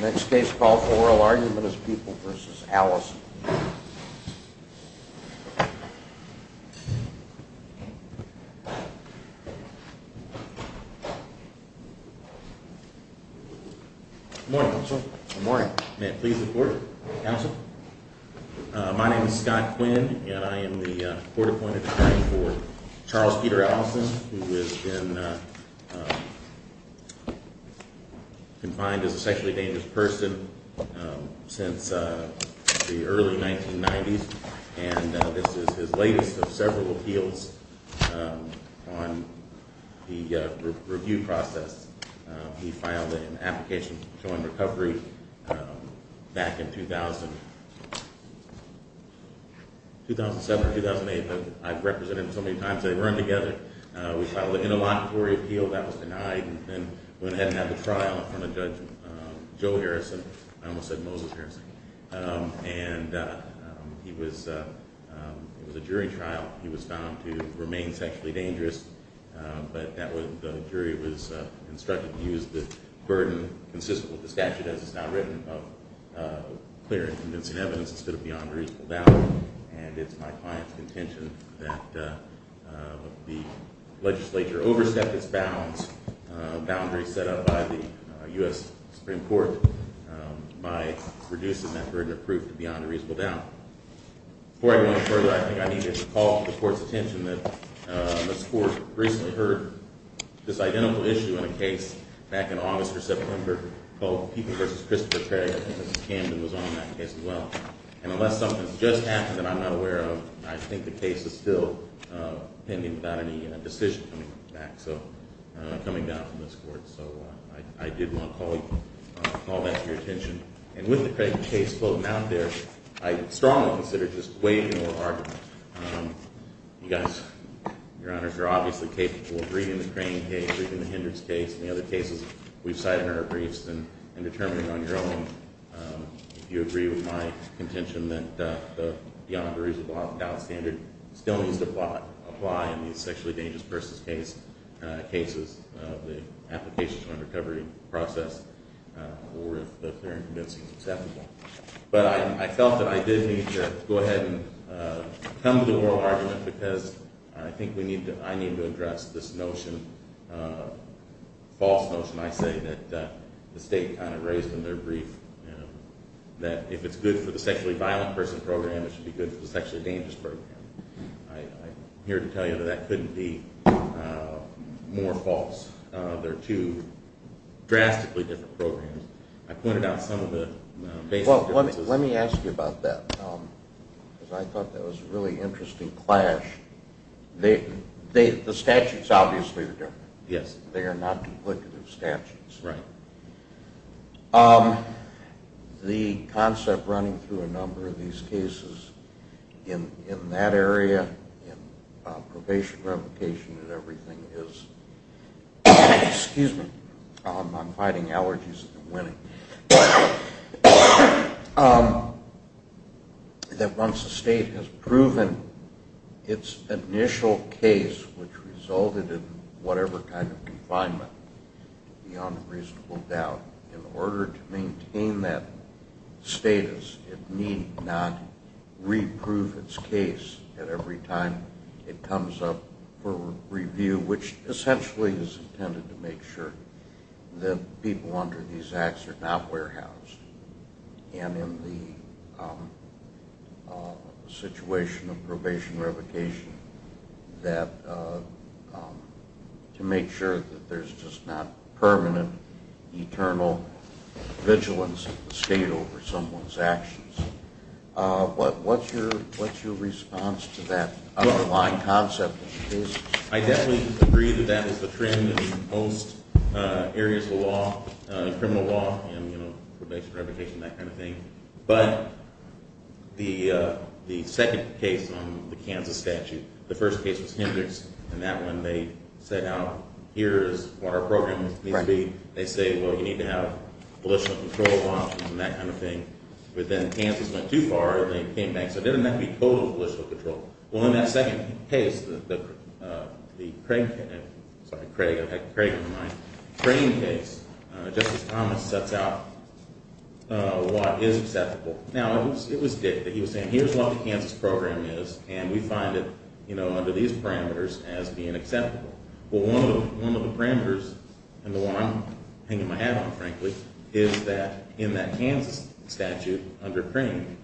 Next case, oral argument is People v. Allison. Good morning, counsel. Good morning. May it please the court. Counsel, my name is Scott Quinn, and I am the court-appointed attorney for Charles Peter Allison, who has been, uh, uh, confined as a sexually dangerous person, um, since, uh, the early 1990s, and, uh, this is his latest of several appeals, um, on the, uh, review process. Um, he filed an application for joint recovery, um, back in 2000, 2007 or 2008, but I've represented him so many times, they weren't together. Uh, we filed an interlocutory appeal, that was denied, and then went ahead and had the trial in front of Judge, um, Joe Harrison, I almost said Moses Harrison. Um, and, uh, he was, uh, um, it was a jury trial, he was found to remain sexually dangerous, um, but that was, the jury was, uh, instructed to use the burden, consistent with the statute, as it's now written, of, uh, clear and convincing evidence instead of beyond reasonable doubt, and it's my client's contention that, uh, the legislature overstepped its bounds, uh, boundaries set up by the, uh, U.S. Supreme Court, um, by reducing that burden of proof beyond a reasonable doubt. Before I go any further, I think I need to call the Court's attention that, uh, this Court recently heard this identical issue in a case back in August or September, called People v. Christopher Craig, I think Mr. Camden was on that case as well, and unless something has just happened that I'm not aware of, I think the case is still, uh, pending without any, uh, decision coming back, so, uh, coming down from this Court, so, uh, I, I did want to call you, uh, call that to your attention, and with the Craig case floating out there, I strongly consider this way more argument, um, you guys, Your Honors, are obviously capable of reading the Crane case, reading the Hendrix case, and the other cases we've cited in our briefs, and, and determining on your own, um, if you agree with my contention that, uh, the beyond reasonable doubt standard still needs to apply, apply in these sexually dangerous persons case, uh, cases, uh, the application and recovery process, uh, or if they're convincingly acceptable, but I, I felt that I did need to go ahead and, uh, come to the oral argument because I think we need to, I need to address this notion, uh, false notion I say that, uh, the State kind of raised in their brief, you know, that if it's good for the sexually violent person program, it should be good for the sexually dangerous program. I, I'm here to tell you that that couldn't be, uh, more false. Uh, they're two drastically different programs. I pointed out some of the basic differences. Well, let me, let me ask you about that, um, because I thought that was a really interesting clash. They, they, the statutes obviously are different. Yes. They are not duplicative statutes. Right. Um, the concept running through a number of these cases in, in that area, in, uh, probation, revocation and everything is, excuse me, um, I'm fighting allergies and winning. Um, that once a state has proven its initial case, which resulted in whatever kind of confinement, beyond reasonable doubt, in order to maintain that status, it need not reproof its case at every time it comes up for review, which essentially is intended to make sure that people under these acts are not warehoused. And in the, um, uh, situation of probation revocation, that, uh, um, to make sure that there's just not permanent, eternal vigilance of the state over someone's actions. Uh, what, what's your, what's your response to that underlying concept? I definitely agree that that is the trend in most, uh, areas of law, uh, criminal law and, you know, probation, revocation, that kind of thing. But the, uh, the second case on the Kansas statute, the first case was Hendricks and that one they set out, here is what our program needs to be. They say, well, you need to have political control options and that kind of thing. But then Kansas went too far and then came back. So didn't that be total political control? Well, in that second case, the, uh, the Craig, sorry, Craig, I've had Craig on the line. Crane case, uh, Justice Thomas sets out, uh, what is acceptable. Now, it was Dick that he was saying, here's what the Kansas program is and we find it, you know, under these parameters as being acceptable. Well, one of the, one of the parameters and the one I'm hanging my hat on, frankly, is that in that Kansas statute under Crane,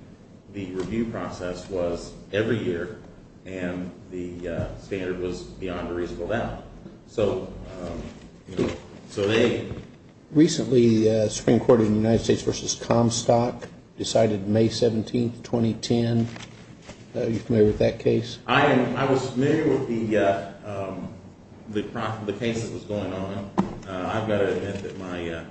the review process was every year and the, uh, standard was beyond a reasonable doubt. So, um, you know, so they. Recently, uh, Supreme Court of the United States versus Comstock decided May 17th, 2010. Are you familiar with that case? I am. I was familiar with the, uh, um, the case that was going on. I've got to admit that my, uh,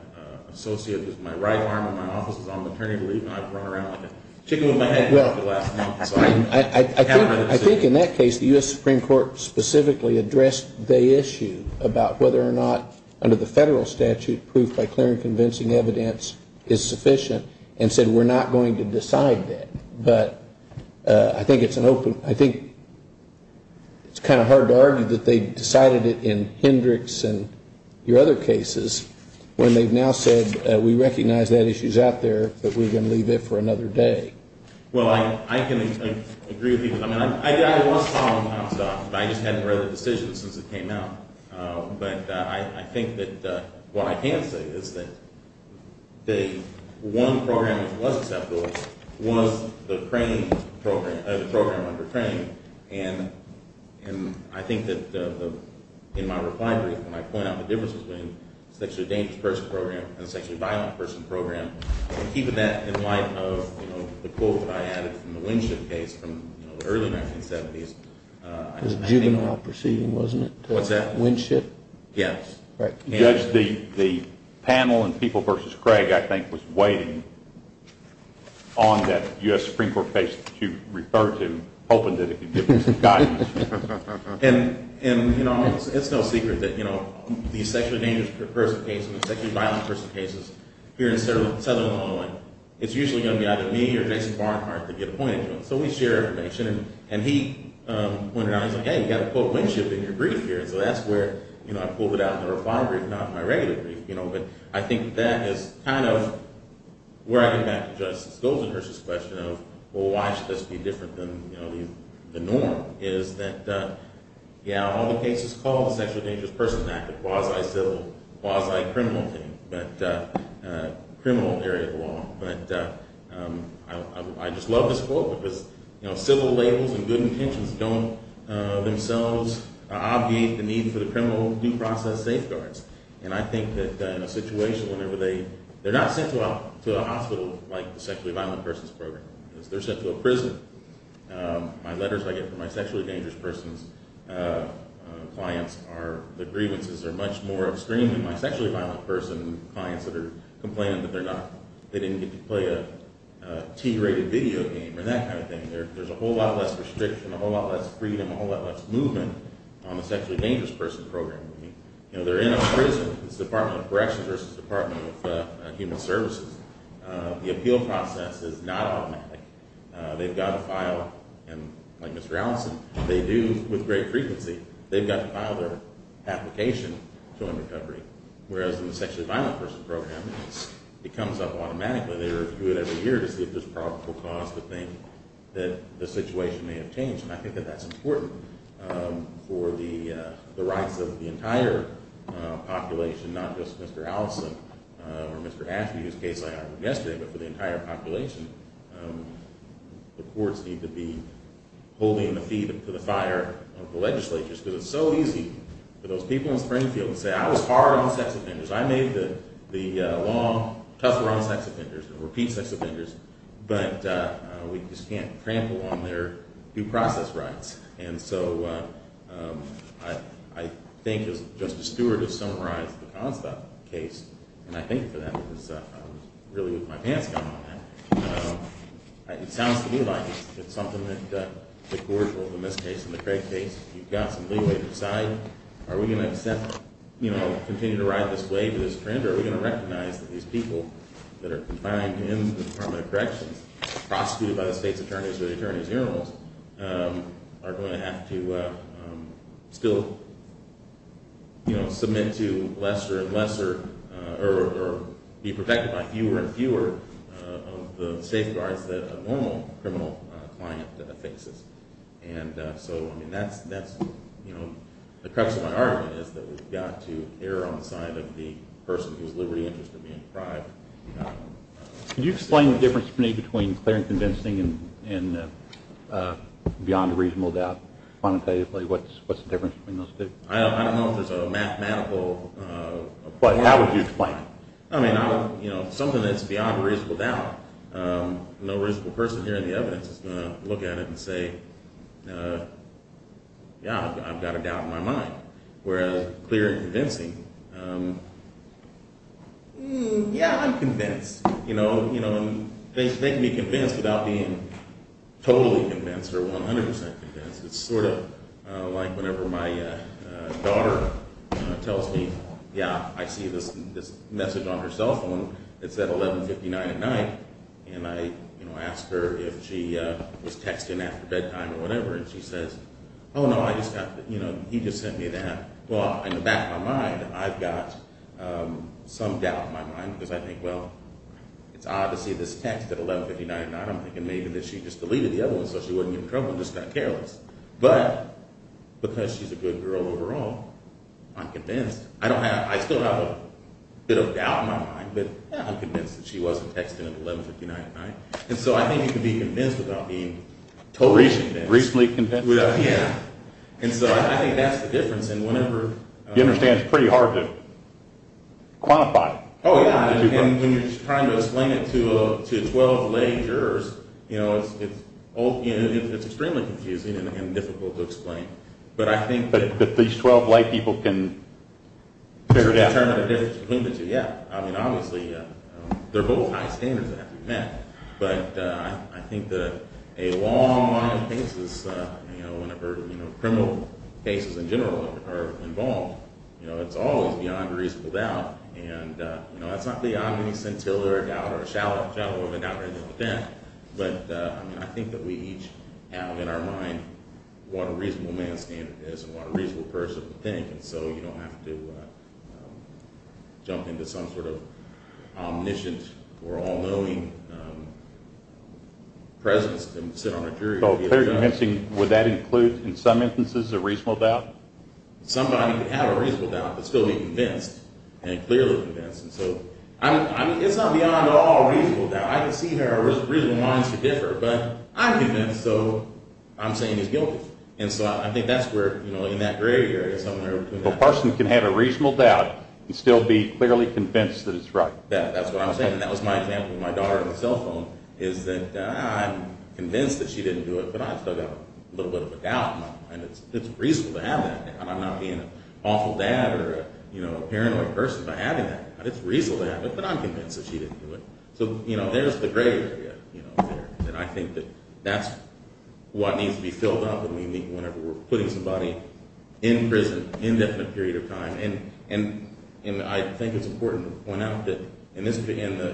associate with my right arm in my office is on maternity leave and I've run around with a chicken in my head for the last month. I think in that case the U.S. Supreme Court specifically addressed the issue about whether or not under the federal statute proof by clear and convincing evidence is sufficient and said we're not going to decide that. But I think it's an open, I think it's kind of hard to argue that they decided it in Hendricks and your other cases when they've now said we recognize that issue is out there but we're going to leave it for another day. Well, I can agree with you. I mean, I was following Comstock, but I just hadn't read the decision since it came out. But I think that what I can say is that the one program that was acceptable was the Crane program, the program under Crane. And I think that in my reply brief when I point out the differences between the sexually dangerous person program and the sexually violent person program and keeping that in light of the quote that I added from the Winship case from the early 1970s. It was juvenile proceeding, wasn't it? What's that? Winship? Judge, the panel in People v. Craig, I think, was waiting on that U.S. Supreme Court case that you referred to, hoping that it could give them some guidance. And, you know, it's no secret that, you know, the sexually dangerous person case and the sexually violent person cases here in southern Illinois, it's usually going to be either me or Jason Barnhart that get appointed to them. So we share information. And he pointed out, he's like, hey, you've got to put Winship in your brief here. And so that's where I pulled it out in the reply brief, not in my regular brief. You know, but I think that is kind of where I get back to Judge Stoltenberg's question of, well, why should this be different than, you know, the norm? Is that, yeah, all the cases called the sexually dangerous person act, a quasi-civil, quasi-criminal thing, but criminal area of law. But I just love this quote because, you know, civil labels and good intentions don't themselves obviate the need for the criminal due process safeguards. And I think that in a situation whenever they – they're not sent to a hospital like the sexually violent persons program. They're sent to a prison. My letters I get from my sexually dangerous persons clients are – the grievances are much more extreme than my sexually violent person clients that are complaining that they're not – they didn't get to play a T-rated video game or that kind of thing. There's a whole lot less restriction, a whole lot less freedom, a whole lot less movement on the sexually dangerous person program. You know, they're in a prison. It's the Department of Corrections versus the Department of Human Services. The appeal process is not automatic. They've got to file – like Mr. Allison, they do with great frequency. They've got to file their application to earn recovery, whereas in the sexually violent person program, it comes up automatically. They review it every year to see if there's a probable cause to think that the situation may have changed. And I think that that's important for the rights of the entire population, not just Mr. Allison or Mr. Ashby, whose case I argued yesterday, but for the entire population. The courts need to be holding the feet to the fire of the legislatures because it's so easy for those people in Springfield to say I was hard on sex offenders. I made the law, tough on sex offenders, repeat sex offenders, but we just can't trample on their due process rights. And so I think, as Justice Stewart has summarized the cause of that case, and I think for that, I was really with my pants down on that, it sounds to me like it's something that the court will, in this case and the Craig case, if you've got some leeway to decide, are we going to continue to ride this wave, this trend, or are we going to recognize that these people that are confined in the Department of Corrections, prosecuted by the state's attorneys or the attorney's generals, are going to have to still submit to lesser and lesser, or be protected by fewer and fewer of the safeguards that a normal criminal client faces. And so, I mean, that's, you know, the crux of my argument is that we've got to err on the side of the person whose liberty interests are being deprived. Can you explain the difference between clear and convincing and beyond a reasonable doubt, quantitatively, what's the difference between those two? I don't know if there's a mathematical... How would you explain it? I mean, you know, something that's beyond a reasonable doubt. No reasonable person hearing the evidence is going to look at it and say, yeah, I've got a doubt in my mind. Whereas clear and convincing, yeah, I'm convinced. You know, things make me convinced without being totally convinced or 100% convinced. It's sort of like whenever my daughter tells me, yeah, I see this message on her cell phone. It's at 11.59 at night. And I, you know, ask her if she was texting after bedtime or whatever, and she says, oh, no, I just got, you know, he just sent me that. Well, in the back of my mind, I've got some doubt in my mind because I think, well, it's odd to see this text at 11.59 at night. I'm thinking maybe that she just deleted the other one so she wouldn't get in trouble and just got careless. But because she's a good girl overall, I'm convinced. I still have a bit of doubt in my mind, but I'm convinced that she wasn't texting at 11.59 at night. And so I think you can be convinced without being totally convinced. Recently convinced. Yeah. And so I think that's the difference in whenever... You understand it's pretty hard to quantify. Oh, yeah. And when you're just trying to explain it to 12 lay jurors, you know, it's extremely confusing and difficult to explain. But I think that... But these 12 lay people can figure it out. Determine the difference between the two, yeah. I mean, obviously, they're both high standards that have to be met. But I think that a long line of cases, you know, whenever, you know, criminal cases in general are involved, you know, it's always beyond a reasonable doubt. And, you know, that's not beyond any scintilla or doubt or shallow of a doubt or anything like that. But, I mean, I think that we each have in our mind what a reasonable man standard is and what a reasonable person would think. And so you don't have to jump into some sort of omniscient or all-knowing presence to sit on a jury. So clear convincing, would that include, in some instances, a reasonable doubt? Somebody can have a reasonable doubt but still be convinced and clearly convinced. And so, I mean, it's not beyond at all reasonable doubt. I can see where a reasonable mind should differ. But I'm convinced, so I'm saying he's guilty. And so I think that's where, you know, in that gray area somewhere. A person can have a reasonable doubt and still be clearly convinced that it's right. That's what I'm saying. And that was my example with my daughter on the cell phone is that I'm convinced that she didn't do it, but I've still got a little bit of a doubt in my mind. It's reasonable to have that doubt. I'm not being an awful dad or, you know, a paranoid person by having that doubt. It's reasonable to have it, but I'm convinced that she didn't do it. So, you know, there's the gray area, you know, there. And I think that that's what needs to be filled up when we meet whenever we're putting somebody in prison, in that period of time. And I think it's important to point out that in the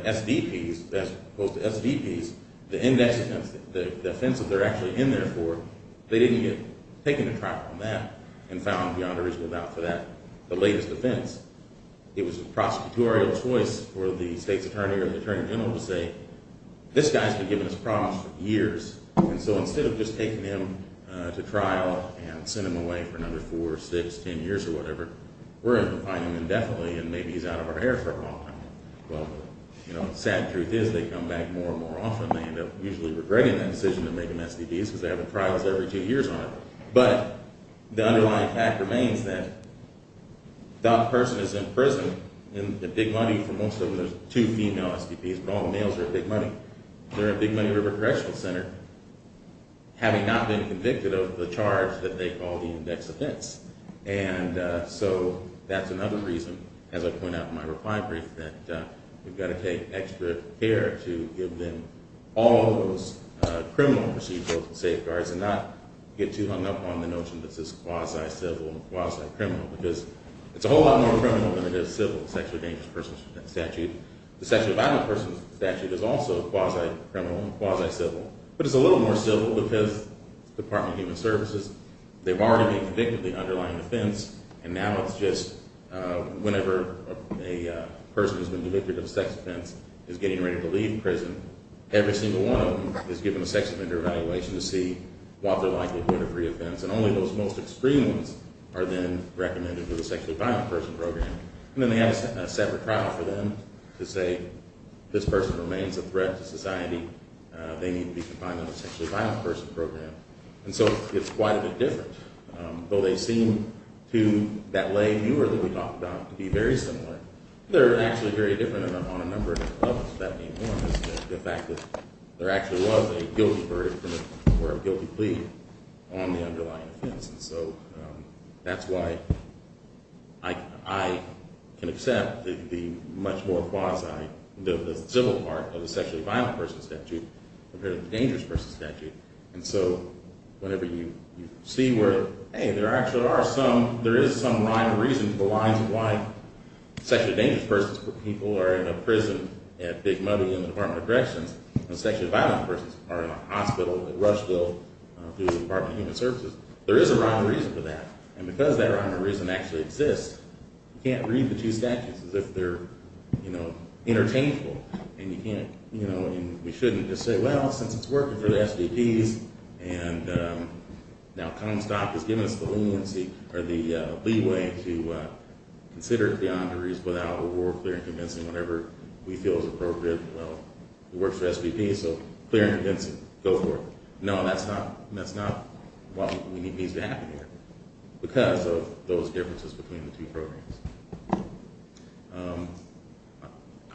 SDPs as opposed to SDPs, the offense that they're actually in there for, they didn't get taken to trial on that and found beyond a reasonable doubt for that, the latest offense. It was a prosecutorial choice for the state's attorney or the attorney general to say, this guy's been given this promise for years. And so instead of just taking him to trial and send him away for another four or six, ten years or whatever, we're going to find him indefinitely and maybe he's out of our hair for a long time. Well, you know, the sad truth is they come back more and more often. They end up usually regretting that decision to make them SDPs because they have the trials every two years on it. But the underlying fact remains that that person is in prison and the big money for most of them, there's two female SDPs, but all the males are in big money. They're in Big Money River Correctional Center having not been convicted of the charge that they call the index offense. And so that's another reason, as I point out in my reply brief, that we've got to take extra care to give them all of those criminal procedural safeguards and not get too hung up on the notion that this is quasi-civil and quasi-criminal because it's a whole lot more criminal than it is civil. The Sexually Dangerous Persons Statute, the Sexually Violent Persons Statute is also quasi-criminal and quasi-civil. But it's a little more civil because the Department of Human Services, they've already been convicted of the underlying offense and now it's just whenever a person who's been convicted of a sex offense is getting ready to leave prison, every single one of them is given a sex offender evaluation to see what they're likely to do in a free offense. And only those most extreme ones are then recommended to the Sexually Violent Persons Program. And then they have a separate trial for them to say this person remains a threat to society. They need to be confined to the Sexually Violent Persons Program. And so it's quite a bit different. Though they seem to that lay viewer that we talked about to be very similar, they're actually very different on a number of levels. The fact that there actually was a guilty verdict or a guilty plea on the underlying offense. And so that's why I can accept the much more quasi-civil part of the Sexually Violent Persons Statute compared to the Dangerous Persons Statute. And so whenever you see where, hey, there actually are some, there is some rhyme or reason for the lines of why sexually dangerous persons or people are in a prison at Big Money in the Department of Corrections and sexually violent persons are in a hospital at Rushville through the Department of Human Services, there is a rhyme or reason for that. And because that rhyme or reason actually exists, you can't read the two statutes as if they're, you know, it works for SBPs and now Comstock has given us the leeway to consider it beyond a reasonable doubt or we're clear and convincing whenever we feel it's appropriate. Well, it works for SBPs, so clear and convincing. Go for it. No, that's not what needs to happen here because of those differences between the two programs.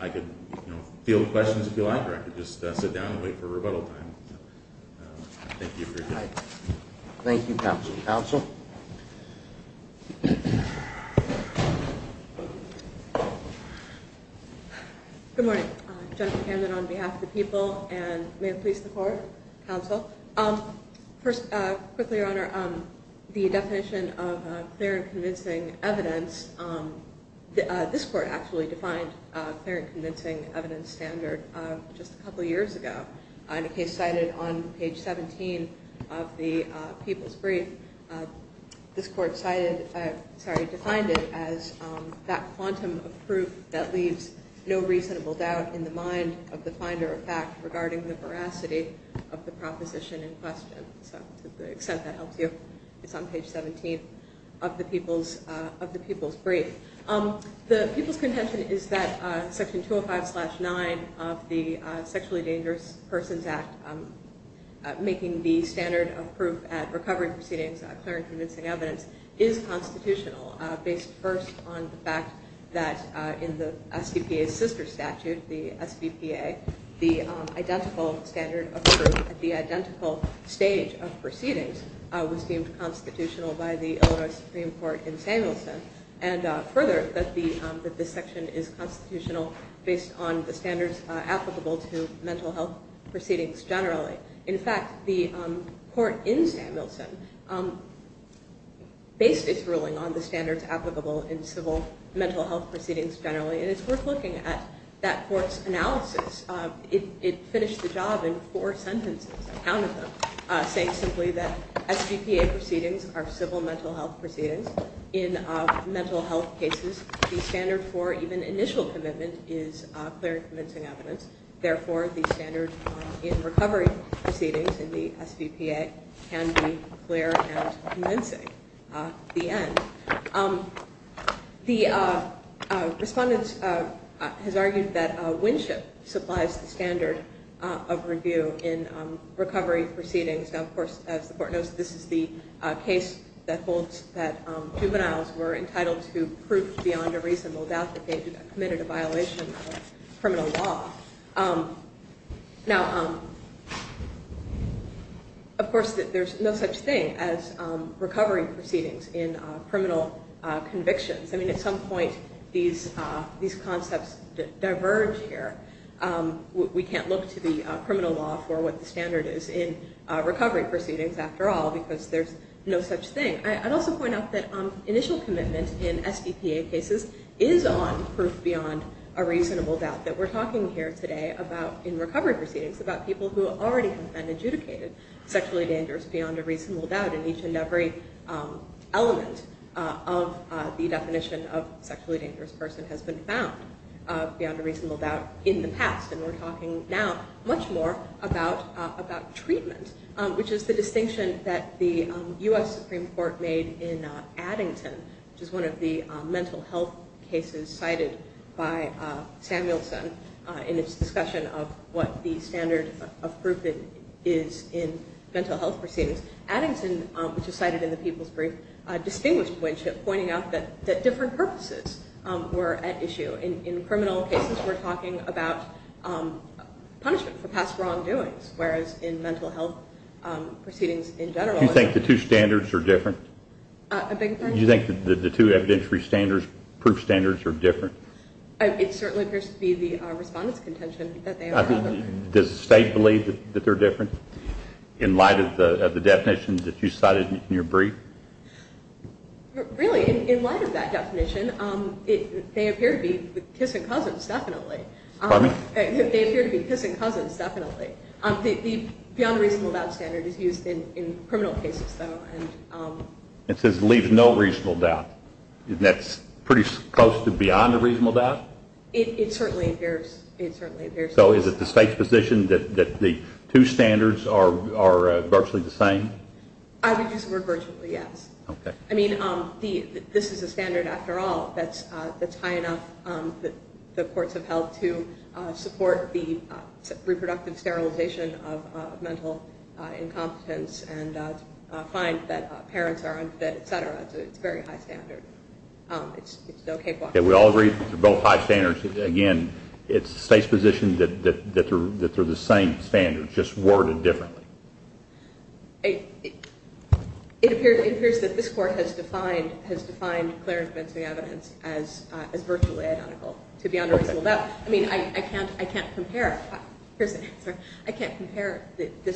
I could, you know, field questions if you like or I could just sit down and wait for rebuttal time. Thank you for your time. Thank you, counsel. Counsel? Good morning. Jennifer Camden on behalf of the people and may it please the Court, counsel. First, quickly, Your Honor, the definition of clear and convincing evidence, this Court actually defined clear and convincing evidence standard just a couple of years ago. In a case cited on page 17 of the People's Brief, this Court cited, sorry, defined it as that quantum of proof that leaves no reasonable doubt in the mind of the finder of fact regarding the veracity of the proposition in question. So to the extent that helps you, it's on page 17 of the People's Brief. The people's contention is that Section 205-9 of the Sexually Dangerous Persons Act making the standard of proof at recovery proceedings clear and convincing evidence is constitutional based first on the fact that in the SBPA's sister statute, the SBPA, the identical standard of proof at the identical stage of proceedings was deemed constitutional by the Illinois Supreme Court in Samuelson and further that this section is constitutional based on the standards applicable to mental health proceedings generally. In fact, the Court in Samuelson based its ruling on the standards applicable in civil mental health proceedings generally and it's worth looking at that Court's analysis. It finished the job in four sentences, a count of them, saying simply that SBPA proceedings are civil mental health proceedings. In mental health cases, the standard for even initial commitment is clear and convincing evidence. Therefore, the standard in recovery proceedings in the SBPA can be clear and convincing. The end. The respondent has argued that Winship supplies the standard of review in recovery proceedings. Now, of course, as the Court knows, this is the case that holds that juveniles were entitled to proof beyond a reasonable doubt that they committed a violation of criminal law. Now, of course, there's no such thing as recovery proceedings in criminal convictions. I mean, at some point, these concepts diverge here. We can't look to the criminal law for what the standard is in recovery proceedings after all because there's no such thing. I'd also point out that initial commitment in SBPA cases is on proof beyond a reasonable doubt that we're talking here today about in recovery proceedings about people who already have been adjudicated sexually dangerous beyond a reasonable doubt in each and every element of the definition of sexually dangerous person has been found beyond a reasonable doubt in the past. And we're talking now much more about treatment, which is the distinction that the U.S. Supreme Court made in Addington, which is one of the mental health cases cited by Samuelson in its discussion of what the standard of proof is in mental health proceedings. Addington, which is cited in the People's Brief, distinguished Winship, pointing out that different purposes were at issue. In criminal cases, we're talking about punishment for past wrongdoings, whereas in mental health proceedings in general. Do you think the two standards are different? A big question. Do you think the two evidentiary standards, proof standards, are different? It certainly appears to be the respondent's contention that they are different. Does the State believe that they're different in light of the definition that you cited in your brief? Really, in light of that definition, they appear to be kissin' cousins, definitely. Pardon me? They appear to be kissin' cousins, definitely. The beyond a reasonable doubt standard is used in criminal cases, though. It says it leaves no reasonable doubt. Isn't that pretty close to beyond a reasonable doubt? It certainly appears so. So is it the State's position that the two standards are virtually the same? I would use the word virtually, yes. Okay. I mean, this is a standard, after all, that's high enough that the courts have held to support the reproductive sterilization of mental incompetence and to find that parents are under that, et cetera. It's a very high standard. It's no cakewalk. Okay, we all agree that they're both high standards. Again, it's the State's position that they're the same standards, just worded differently. It appears that this Court has defined clear and convincing evidence as virtually identical to beyond a reasonable doubt. I mean, I can't compare this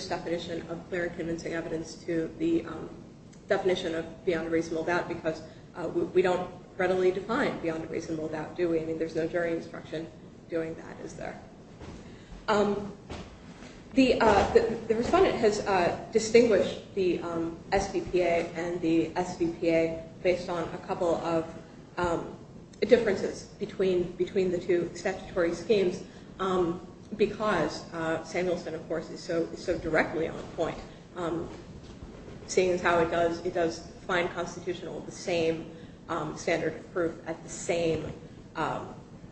definition of clear and convincing evidence to the definition of beyond a reasonable doubt because we don't readily define beyond a reasonable doubt, do we? I mean, there's no jury instruction doing that, is there? The respondent has distinguished the SVPA and the SVPA based on a couple of differences between the two statutory schemes because Samuelson, of course, is so directly on point, seeing as how it does find constitutional, the same standard of proof at the same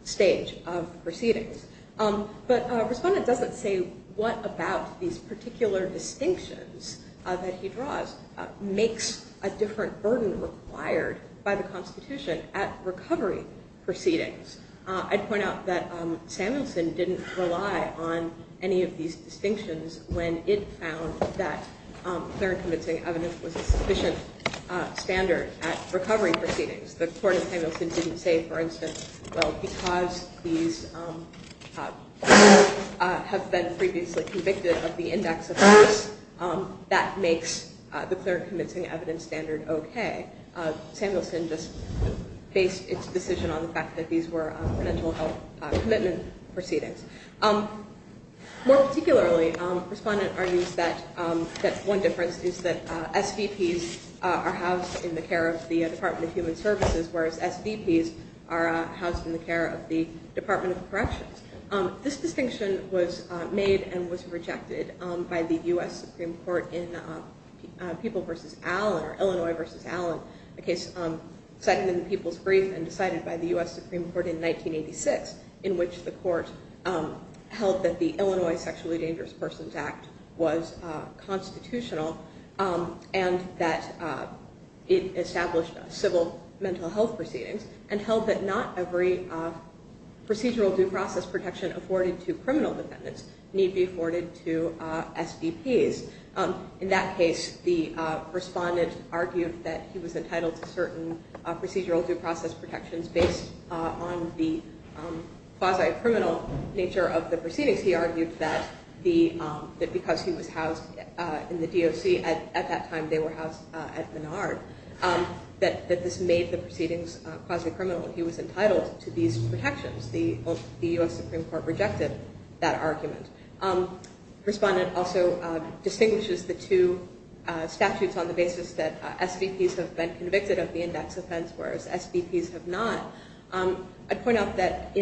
stage of proceedings. But a respondent doesn't say what about these particular distinctions that he draws makes a different burden required by the Constitution at recovery proceedings. I'd point out that Samuelson didn't rely on any of these distinctions when it found that clear and convincing evidence was a sufficient standard at recovery proceedings. The Court of Samuelson didn't say, for instance, well, because these people have been previously convicted of the index of abuse, that makes the clear and convincing evidence standard okay. Samuelson just based its decision on the fact that these were mental health commitment proceedings. More particularly, a respondent argues that one difference is that SVPs are housed in the care of the Department of Human Services, whereas SVPs are housed in the care of the Department of Corrections. This distinction was made and was rejected by the U.S. Supreme Court in People v. Allen or Illinois v. Allen, a case cited in the People's Brief and decided by the U.S. Supreme Court in 1986, in which the court held that the Illinois Sexually Dangerous Persons Act was constitutional and that it established civil mental health proceedings and held that not every procedural due process protection afforded to criminal defendants need be afforded to SVPs. In that case, the respondent argued that he was entitled to certain procedural due process protections based on the quasi-criminal nature of the proceedings. He argued that because he was housed in the DOC at that time, they were housed at Menard, that this made the proceedings quasi-criminal and he was entitled to these protections. The U.S. Supreme Court rejected that argument. The respondent also distinguishes the two statutes on the basis that SVPs have been convicted of the index offense, whereas SVPs have not. I'd point out that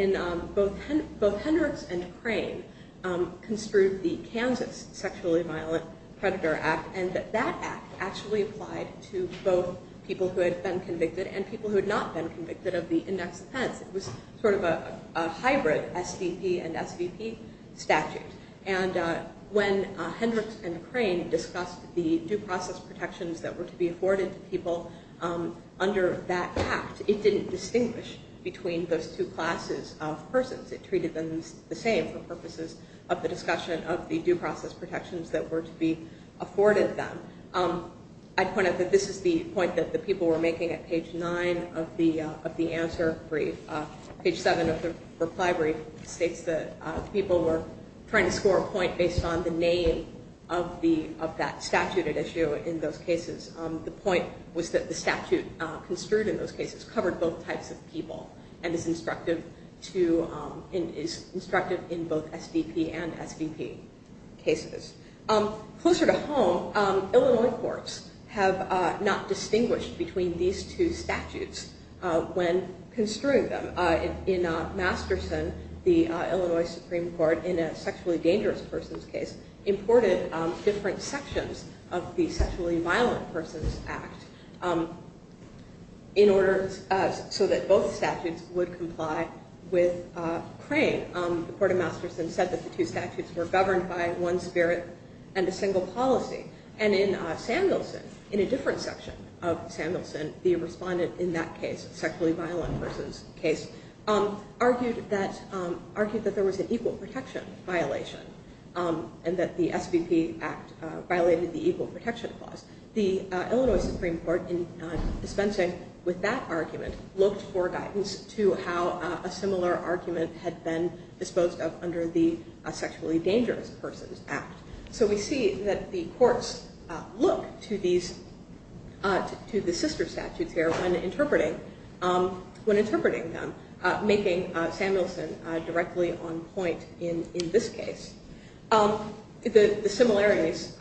both Hendricks and Crane construed the Kansas Sexually Violent Predator Act and that that act actually applied to both people who had been convicted and people who had not been convicted of the index offense. It was sort of a hybrid SDP and SVP statute. And when Hendricks and Crane discussed the due process protections that were to be afforded to people under that act, it didn't distinguish between those two classes of persons. It treated them the same for purposes of the discussion of the due process protections that were to be afforded them. I'd point out that this is the point that the people were making at page 9 of the answer brief. Page 7 of the reply brief states that people were trying to score a point based on the name of that statute at issue in those cases. The point was that the statute construed in those cases covered both types of people and is instructive in both SDP and SVP cases. Closer to home, Illinois courts have not distinguished between these two statutes when construing them. In Masterson, the Illinois Supreme Court, in a sexually dangerous persons case, imported different sections of the Sexually Violent Persons Act so that both statutes would comply with Crane. The Court of Masterson said that the two statutes were governed by one spirit and a single policy. And in Samuelson, in a different section of Samuelson, the respondent in that case, sexually violent persons case, argued that there was an equal protection violation and that the SVP Act violated the equal protection clause. The Illinois Supreme Court, in dispensing with that argument, looked for guidance to how a similar argument had been disposed of under the Sexually Dangerous Persons Act. So we see that the courts look to the sister statutes here when interpreting them, making Samuelson directly on point in this case. The similarities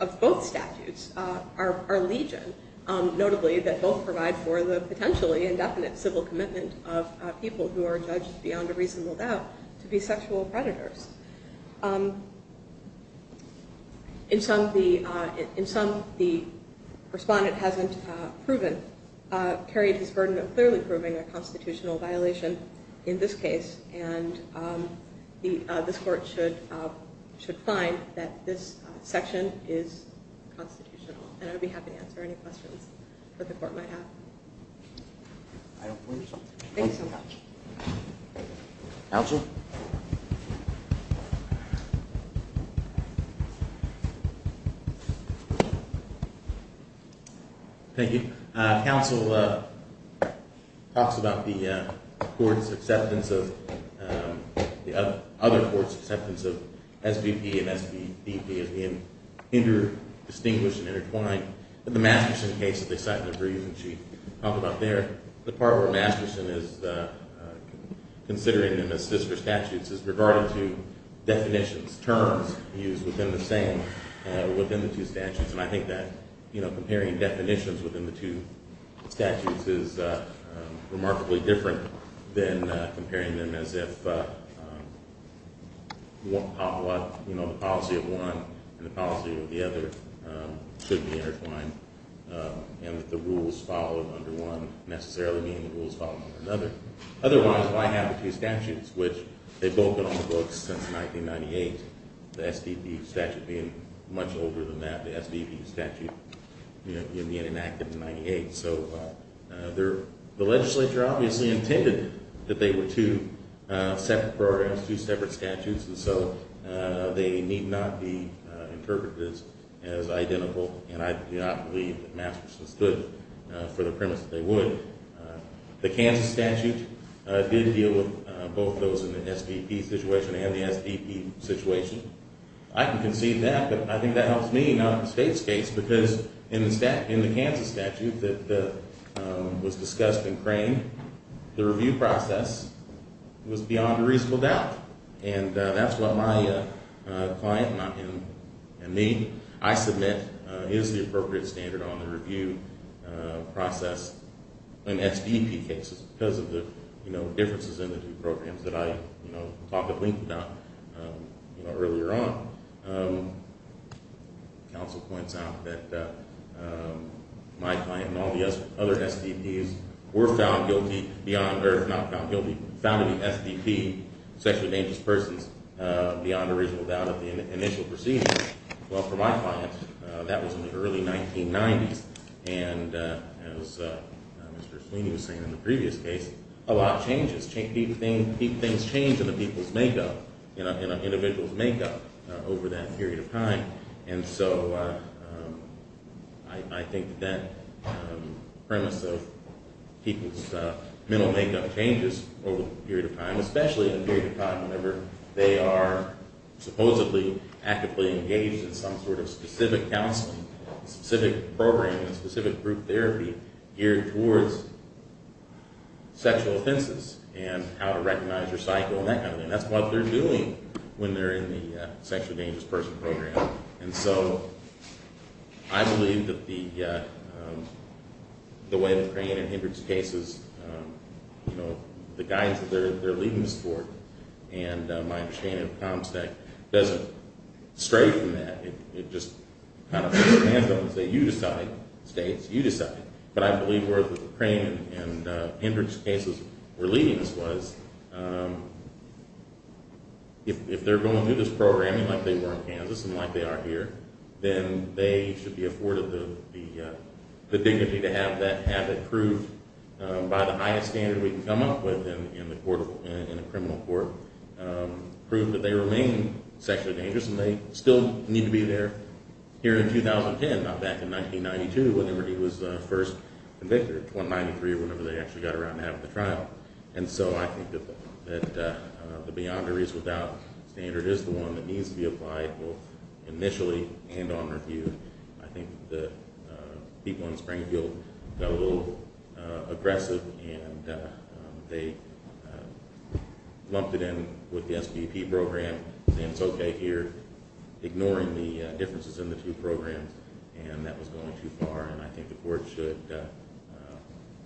of both statutes are legion, notably that both provide for the potentially indefinite civil commitment of people who are judged beyond a reasonable doubt to be sexual predators. In some, the respondent hasn't carried his burden of clearly proving a constitutional violation in this case, and this court should find that this section is constitutional. And I'd be happy to answer any questions that the court might have. I don't believe so. Thank you so much. Counsel? Thank you. Counsel talks about the court's acceptance of, the other court's acceptance of, SVP and SVP as being inter-distinguished and intertwined. In the Masterson case that they cite in the brief that she talked about there, the part where Masterson is considering them as sister statutes is regarding to definitions, terms used within the same, within the two statutes. And I think that, you know, comparing definitions within the two statutes is remarkably different than comparing them as if the policy of one and the policy of the other should be intertwined, and that the rules followed under one necessarily mean the rules follow under another. Otherwise, why have the two statutes, which they've both been on the books since 1998, the SVP statute being much older than that, the SVP statute being enacted in 1998. So the legislature obviously intended that they were two separate programs, two separate statutes, and so they need not be interpreted as identical, and I do not believe that Masterson stood for the premise that they would. The Kansas statute did deal with both those in the SVP situation and the SVP situation. I can concede that, but I think that helps me, not the state's case, because in the Kansas statute that was discussed in Crane, the review process was beyond a reasonable doubt, and that's what my client and me, I submit, is the appropriate standard on the review process. In SVP cases, because of the differences in the two programs that I talked at length about earlier on, counsel points out that my client and all the other SVPs were found guilty beyond, or if not found guilty, found in the SVP sexually dangerous persons beyond a reasonable doubt of the initial proceedings. Well, for my client, that was in the early 1990s, and as Mr. Sweeney was saying in the previous case, a lot changes. Things change in the people's makeup, in an individual's makeup over that period of time, and so I think that premise of people's mental makeup changes over a period of time, especially in a period of time whenever they are supposedly actively engaged in some sort of specific counseling, specific programming, specific group therapy, geared towards sexual offenses and how to recognize your cycle and that kind of thing. And that's what they're doing when they're in the sexually dangerous person program. And so I believe that the way that Crane and Hendricks' cases, you know, the guidance that they're leaving us for, and my understanding of ComStack doesn't stray from that. It just kind of puts its hands up and says, you decide, states, you decide. But I believe where Crane and Hendricks' cases were leading us was, if they're going through this programming like they were in Kansas and like they are here, then they should be afforded the dignity to have that habit proved by the highest standard we can come up with in a criminal court, prove that they remain sexually dangerous and they still need to be there. Here in 2010, not back in 1992, whenever he was first convicted, in 1993 or whenever they actually got around to having the trial. And so I think that the beyonder is without standard is the one that needs to be applied both initially and on review. I think the people in Springfield got a little aggressive and they lumped it in with the SBP program, and it's okay here, ignoring the differences in the two programs, and that was going too far. And I think the court should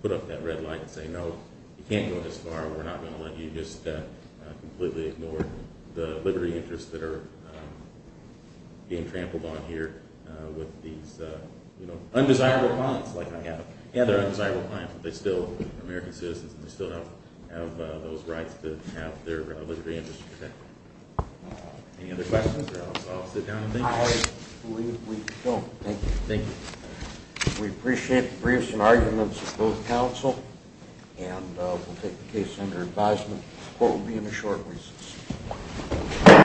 put up that red light and say, no, you can't go this far. We're not going to let you just completely ignore the liberty interests that are being trampled on here with these undesirable clients like I have. And they're undesirable clients, but they're still American citizens and they still have those rights to have their liberty interests protected. Any other questions, or I'll sit down and thank you. I believe we don't. Thank you. Thank you. We appreciate the briefs and arguments of both counsel, and we'll take the case under advisement. The court will be in a short recess.